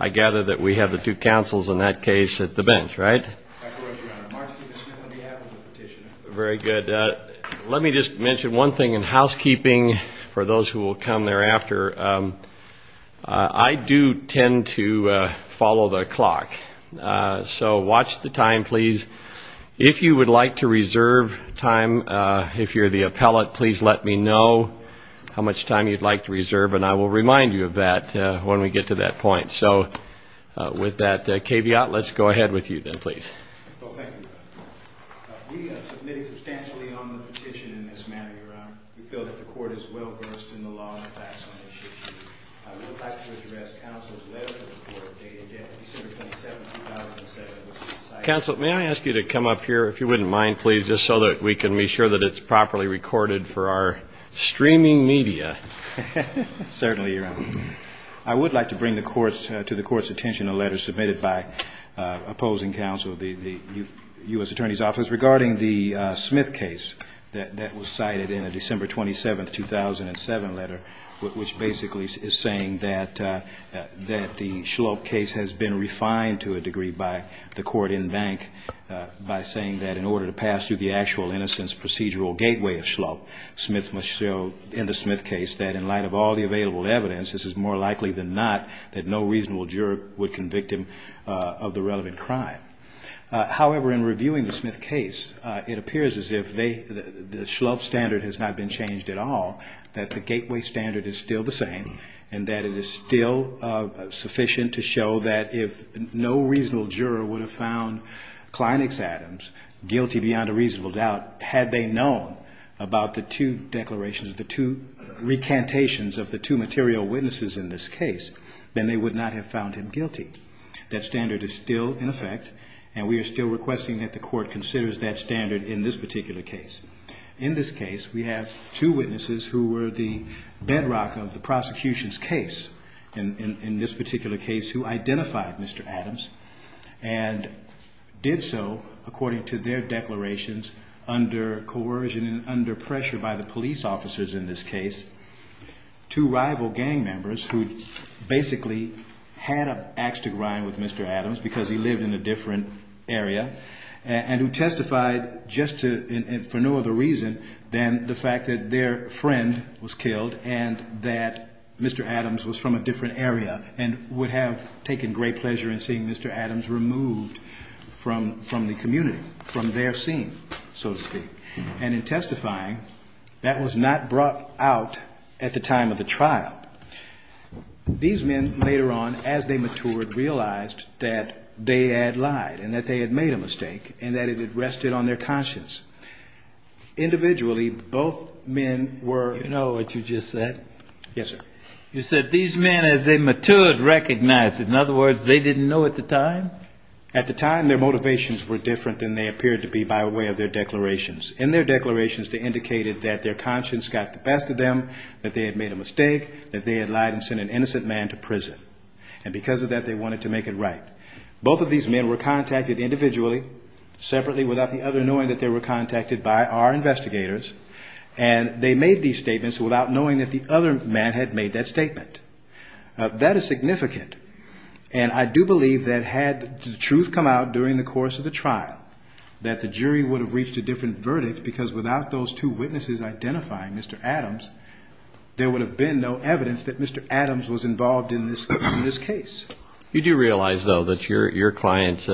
I gather that we have the two counsels in that case at the bench, right? That's right, Your Honor. Mark Stevenson on behalf of the petitioner. Very good. Let me just mention one thing in housekeeping for those who will come thereafter. I do tend to follow the clock, so watch the time, please. If you would like to reserve time, if you're the appellate, please let me know how much time you'd like to reserve, and I will remind you of that when we get to that point. So with that caveat, let's go ahead with you then, please. Well, thank you, Your Honor. We have submitted substantially on the petition in this manner, Your Honor. We feel that the court is well-versed in the law and the facts on this issue. We would like to address counsel's letter to the court dated December 27, 2007. Counsel, may I ask you to come up here, if you wouldn't mind, please, just so that we can be sure that it's properly recorded for our streaming media? Certainly, Your Honor. I would like to bring to the court's attention a letter submitted by opposing counsel, the U.S. Attorney's Office, regarding the Smith case that was cited in a December 27, 2007 letter, which basically is saying that the Shlope case has been refined to a degree by the court in bank by saying that in order to pass through the actual innocence procedural gateway of Shlope, Smith must show in the Smith case that in light of all the available evidence, this is more likely than not that no reasonable juror would convict him of the relevant crime. However, in reviewing the Smith case, it appears as if the Shlope standard has not been changed at all, that the gateway standard is still the same, and that it is still sufficient to show that if no reasonable juror would have found Kleinex Adams guilty beyond a reasonable doubt, had they known about the two declarations, the two recantations of the two material witnesses in this case, then they would not have found him guilty. That standard is still in effect, and we are still requesting that the court considers that standard in this particular case. In this case, we have two witnesses who were the bedrock of the prosecution's case, in this particular case, who identified Mr. Adams and did so according to their declarations under coercion and under pressure by the police officers in this case. Two rival gang members who basically had an axe to grind with Mr. Adams because he lived in a different area, and who testified just for no other reason than the fact that their friend was killed and that Mr. Adams was from a different area, and would have taken great pleasure in seeing Mr. Adams removed from the community, from their scene, so to speak. And in testifying, that was not brought out at the time of the trial. These men, later on, as they matured, realized that they had lied, and that they had made a mistake, and that it had rested on their conscience. Individually, both men were... Do you know what you just said? Yes, sir. You said, these men, as they matured, recognized it. In other words, they didn't know at the time? At the time, their motivations were different than they appeared to be by way of their declarations. In their declarations, they indicated that their conscience got the best of them, that they had made a mistake, that they had lied and sent an innocent man to prison. And because of that, they wanted to make it right. Both of these men were contacted individually, separately, without the other knowing that they were contacted by our investigators. And they made these statements without knowing that the other man had made that statement. That is significant. And I do believe that had the truth come out during the course of the trial, that the jury would have reached a different verdict, because without those two witnesses identifying Mr. Adams, there would have been no evidence that Mr. Adams was involved in this case. You do realize, though, that your client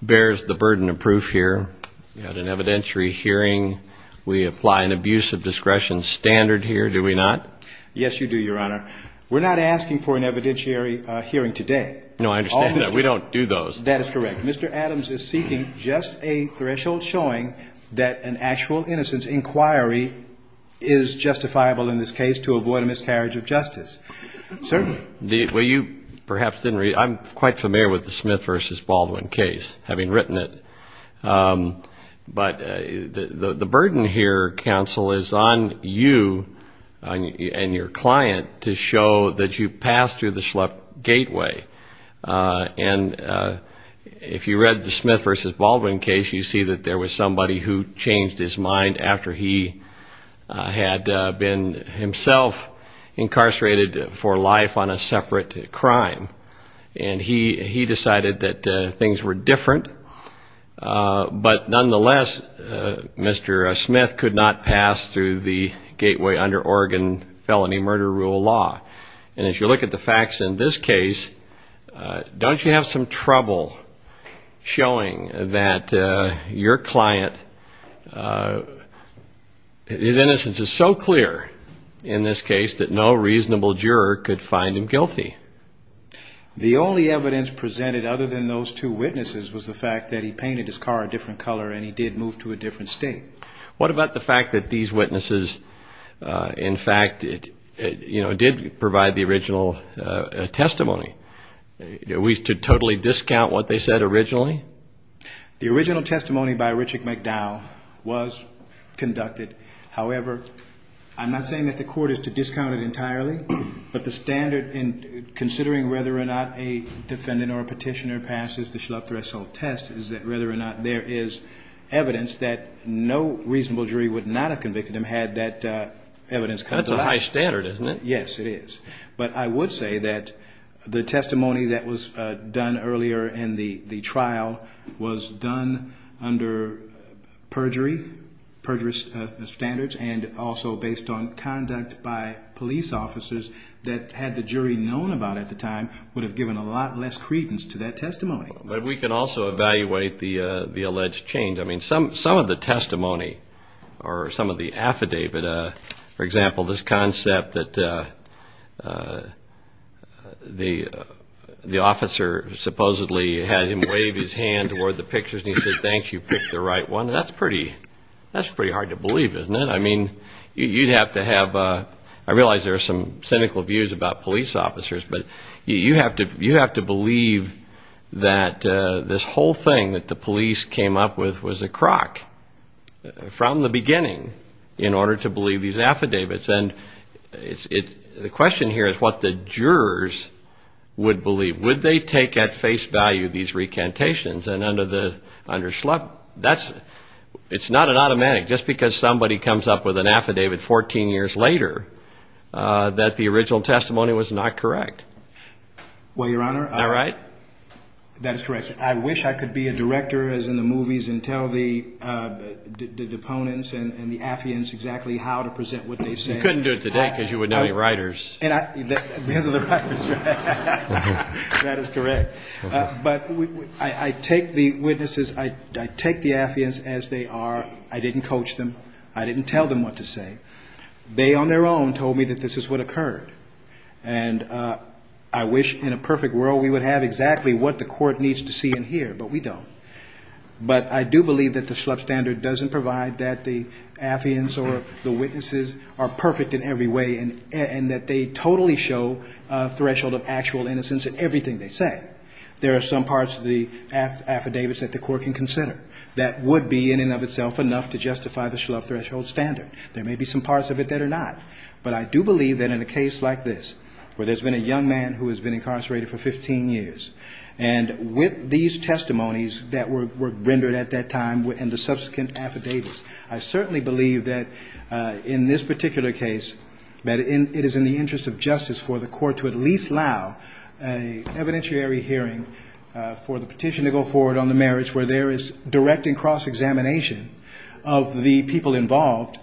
bears the burden of proof here. You had an evidentiary hearing. We apply an abuse of discretion standard here, do we not? Yes, you do, Your Honor. We're not asking for an evidentiary hearing today. No, I understand that. We don't do those. That is correct. Mr. Adams is seeking just a threshold showing that an actual innocence inquiry is justifiable in this case to avoid a miscarriage of justice. Certainly. Well, you perhaps didn't read – I'm quite familiar with the Smith v. Baldwin case, having written it. But the burden here, counsel, is on you and your client to show that you passed through the schlep gateway. And if you read the Smith v. Baldwin case, you see that there was somebody who changed his mind after he had been himself incarcerated for life on a separate crime. And he decided that things were different. But nonetheless, Mr. Smith could not pass through the gateway under Oregon felony murder rule law. And as you look at the facts in this case, don't you have some trouble showing that your client – his innocence is so clear in this case that no reasonable juror could find him guilty? The only evidence presented other than those two witnesses was the fact that he painted his car a different color and he did move to a different state. What about the fact that these witnesses, in fact, did provide the original testimony? We should totally discount what they said originally? The original testimony by Richard McDowell was conducted. However, I'm not saying that the court is to discount it entirely, but the standard in considering whether or not a defendant or a petitioner passes the schlep threshold test is that whether or not there is evidence that no reasonable jury would not have convicted him had that evidence come back. That's a high standard, isn't it? Yes, it is. But I would say that the testimony that was done earlier and the trial was done under perjury standards and also based on conduct by police officers that had the jury known about at the time would have given a lot less credence to that testimony. But we can also evaluate the alleged change. Some of the testimony or some of the affidavit, for example, this concept that the officer supposedly had him wave his hand toward the pictures and he said, thanks, you picked the right one, that's pretty hard to believe, isn't it? I mean, you'd have to have... I realize there are some cynical views about police officers, but you have to believe that this whole thing that the police came up with was a crock from the beginning in order to believe these affidavits. And the question here is what the jurors would believe. Would they take at face value these recantations and under the... It's not an automatic. Just because somebody comes up with an affidavit 14 years later that the original testimony was not correct. Well, Your Honor... Am I right? That is correct. I wish I could be a director, as in the movies, and tell the deponents and the affiants exactly how to present what they said. You couldn't do it today because you wouldn't have any writers. Because of the writers, right? That is correct. But I take the witnesses, I take the affiants as they are. I didn't coach them. I didn't tell them what to say. They on their own told me that this is what occurred. And I wish in a perfect world we would have exactly what the court needs to see and hear, but we don't. But I do believe that the Schlepp standard doesn't provide that the affiants or the witnesses are perfect in every way and that they totally show a threshold of actual innocence in everything they say. There are some parts of the affidavits that the court can consider that would be in and of itself enough to justify the Schlepp threshold standard. There may be some parts of it that are not. But I do believe that in a case like this where there's been a young man who has been incarcerated for 15 years and with these testimonies that were rendered at that time and the subsequent affidavits, I certainly believe that in this particular case it is in the interest of justice for the court to at least allow an evidentiary hearing for the petition to go forward on the marriage where there is direct and cross-examination of the people involved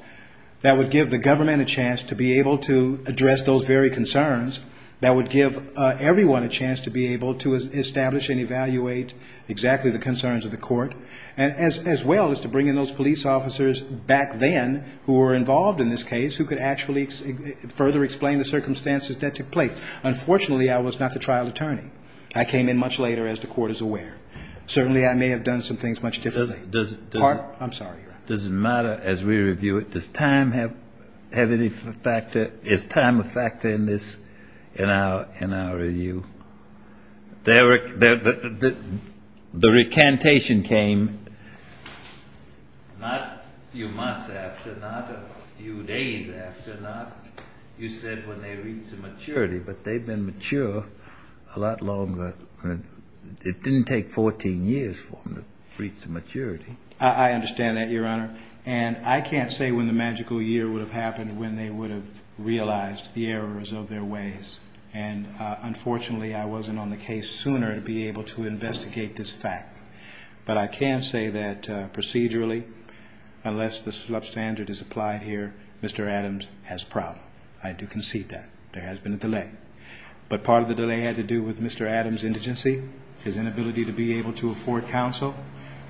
that would give the government a chance to be able to address those very concerns that would give everyone a chance to be able to establish and evaluate exactly the concerns of the court as well as to bring in those police officers back then who were involved in this case who could actually further explain the circumstances that took place. Unfortunately, I was not the trial attorney. I came in much later as the court is aware. Certainly I may have done some things much differently. Does it matter as we review it does time have any factor is time a factor in our review? The recantation came not a few months after not a few days after not, you said when they reached maturity, but they've been mature a lot longer it didn't take 14 years for them to reach maturity. I understand that, Your Honor. I can't say when the magical year would have happened when they would have realized the errors of their ways and unfortunately I wasn't on the case sooner to be able to investigate this fact, but I can say that procedurally unless the substandard is applied here, Mr. Adams has problem. I do concede that. There has been a delay, but part of the delay had to do with Mr. Adams' indigency his inability to be able to afford counsel,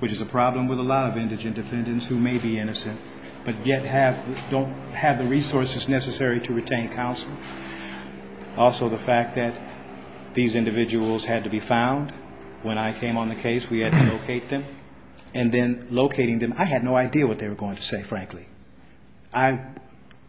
which is a problem with a lot of indigent defendants who may be innocent but yet have, don't have the resources necessary to retain counsel. Also the fact that these individuals had to be found when I came on the case, we had to locate them and then locating them, I had no idea what they were going to say, frankly. I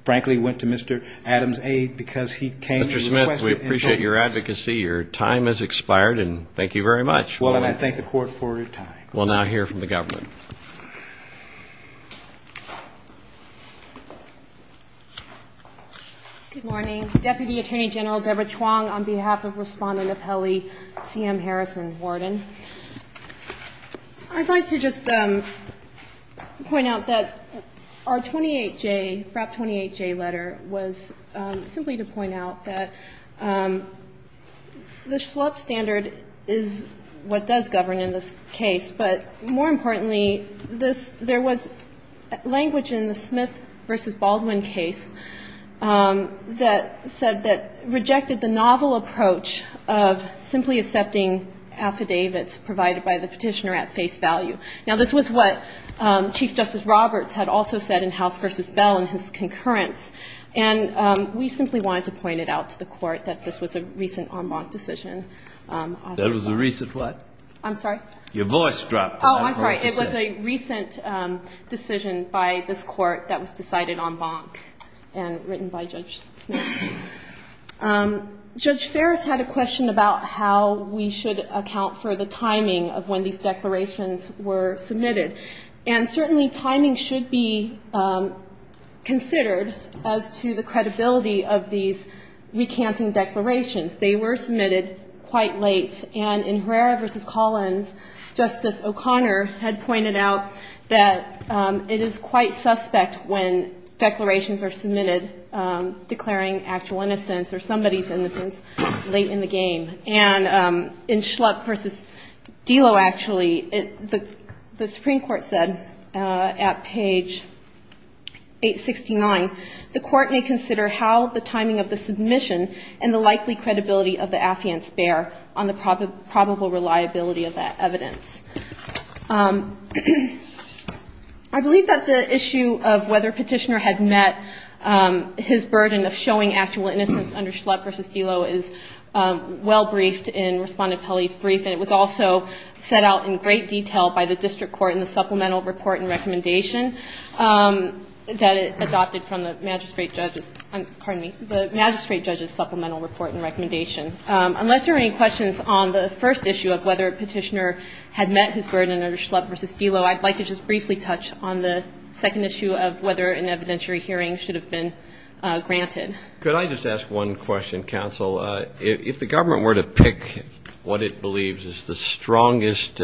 frankly went to Mr. Adams' aid because he came Mr. Smith, we appreciate your advocacy your time has expired and thank you very much. Well, and I thank the court for your time. We'll now hear from the government. Good morning. Deputy Attorney General Deborah Chuang on behalf of Respondent Appelli, C.M. Harrison, Warden. I'd like to just point out that our 28-J FRAP 28-J letter was simply to point out that the schlup standard is what does govern in this case, but more importantly, this there was language in the Smith v. Baldwin case that said that rejected the novel approach of simply accepting affidavits provided by the petitioner at face value. Now, this was what Chief Justice Roberts had also said in House v. Bell in his concurrence and we simply wanted to point it out to the court that this was a recent en banc decision. That was a recent what? I'm sorry? Your voice dropped. Oh, I'm sorry. It was a recent decided en banc and written by Judge Smith. Judge Ferris had a question about how we should account for the timing of when these declarations were submitted and certainly timing should be considered as to the credibility of these recanting declarations. They were submitted quite late and in Herrera v. Collins Justice O'Connor had pointed out that it is quite suspect when declarations are submitted declaring actual innocence or somebody's innocence late in the game and in Schlupp v. Dillow actually the Supreme Court said at page 869 the court may consider how the timing of the submission and the likely credibility of the affiance bear on the probable reliability of that evidence. I believe that the issue of whether petitioner had met his burden of showing actual innocence under Schlupp v. Dillow is well briefed in Respondent Pelley's brief and it was also set out in great detail by the district court in the supplemental report and recommendation that it adopted from the magistrate judge's supplemental report and recommendation. Unless there are any questions on the first issue of whether petitioner had met his burden under Schlupp v. Dillow I'd like to just briefly touch on the second issue of whether an evidentiary hearing should have been granted. Could I just ask one question, counsel? If the government were to pick what it believes is the strongest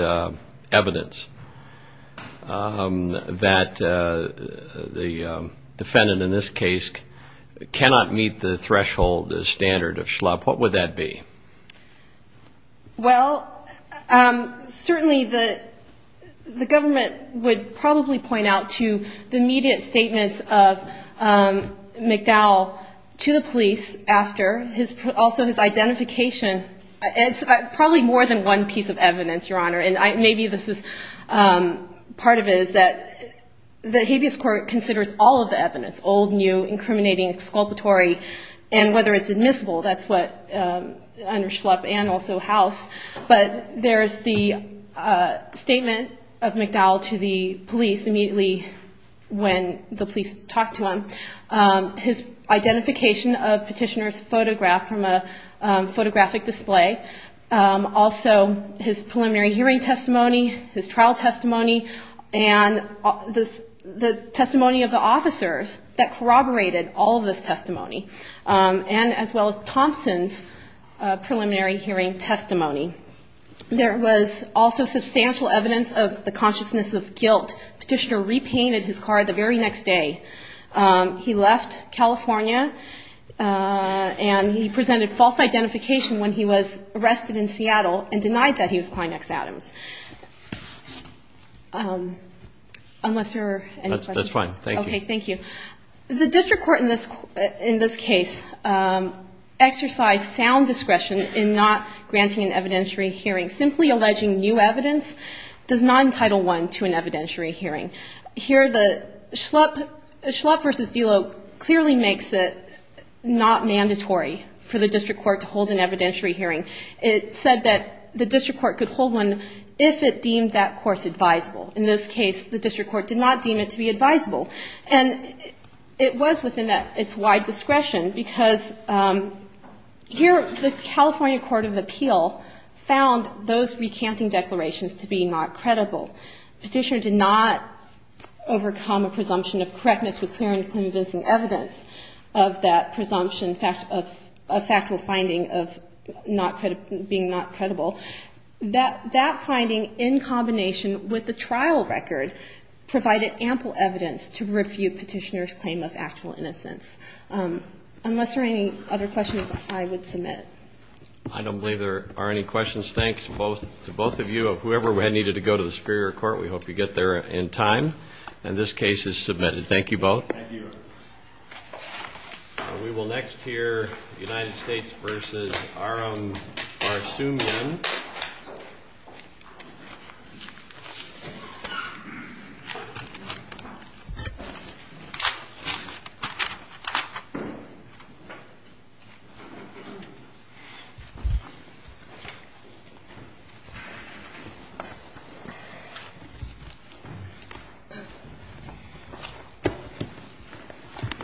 evidence that the defendant in this case cannot meet the threshold standard of Schlupp, what would that be? Well certainly the government would probably point out to the immediate statements of McDowell to the police after his identification probably more than one piece of evidence your honor and maybe this is part of it is that the habeas court considers all of the evidence, old, new, incriminating, exculpatory, and whether it's admissible that's what under Schlupp and also House but there's the statement of McDowell to the police immediately when the police talked to him his identification of petitioner's photograph from a photographic display also his preliminary hearing testimony, his trial testimony and the testimony of the officers that corroborated all of this testimony and as well as Thompson's preliminary hearing testimony there was also substantial evidence of the consciousness of guilt petitioner repainted his car the very next day he left California and he presented false identification when he was arrested in Seattle and denied that he was Kleinex Adams unless there are any questions that's fine, thank you the district court in this case exercised sound discretion in not granting an evidentiary hearing simply alleging new evidence does not entitle one to an evidentiary hearing here the Schlupp vs. Delo clearly makes it not mandatory for the district court to hold an evidentiary hearing it said that the district court could hold one if it deemed that course advisable in this case the district court did not deem it to be advisable and it was within its wide discretion because here the California Court of Appeal found those recanting declarations to be not credible the petitioner did not overcome a presumption of correctness with clear and convincing evidence of that presumption of factual finding of being not credible that finding in combination with the trial record provided ample evidence to refute petitioner's claim of actual innocence unless there are any other questions I would submit I don't believe there are any questions thanks to both of you whoever needed to go to the Superior Court we hope you get there in time and this case is submitted thank you both we will next hear United States vs. Aram Barsoomian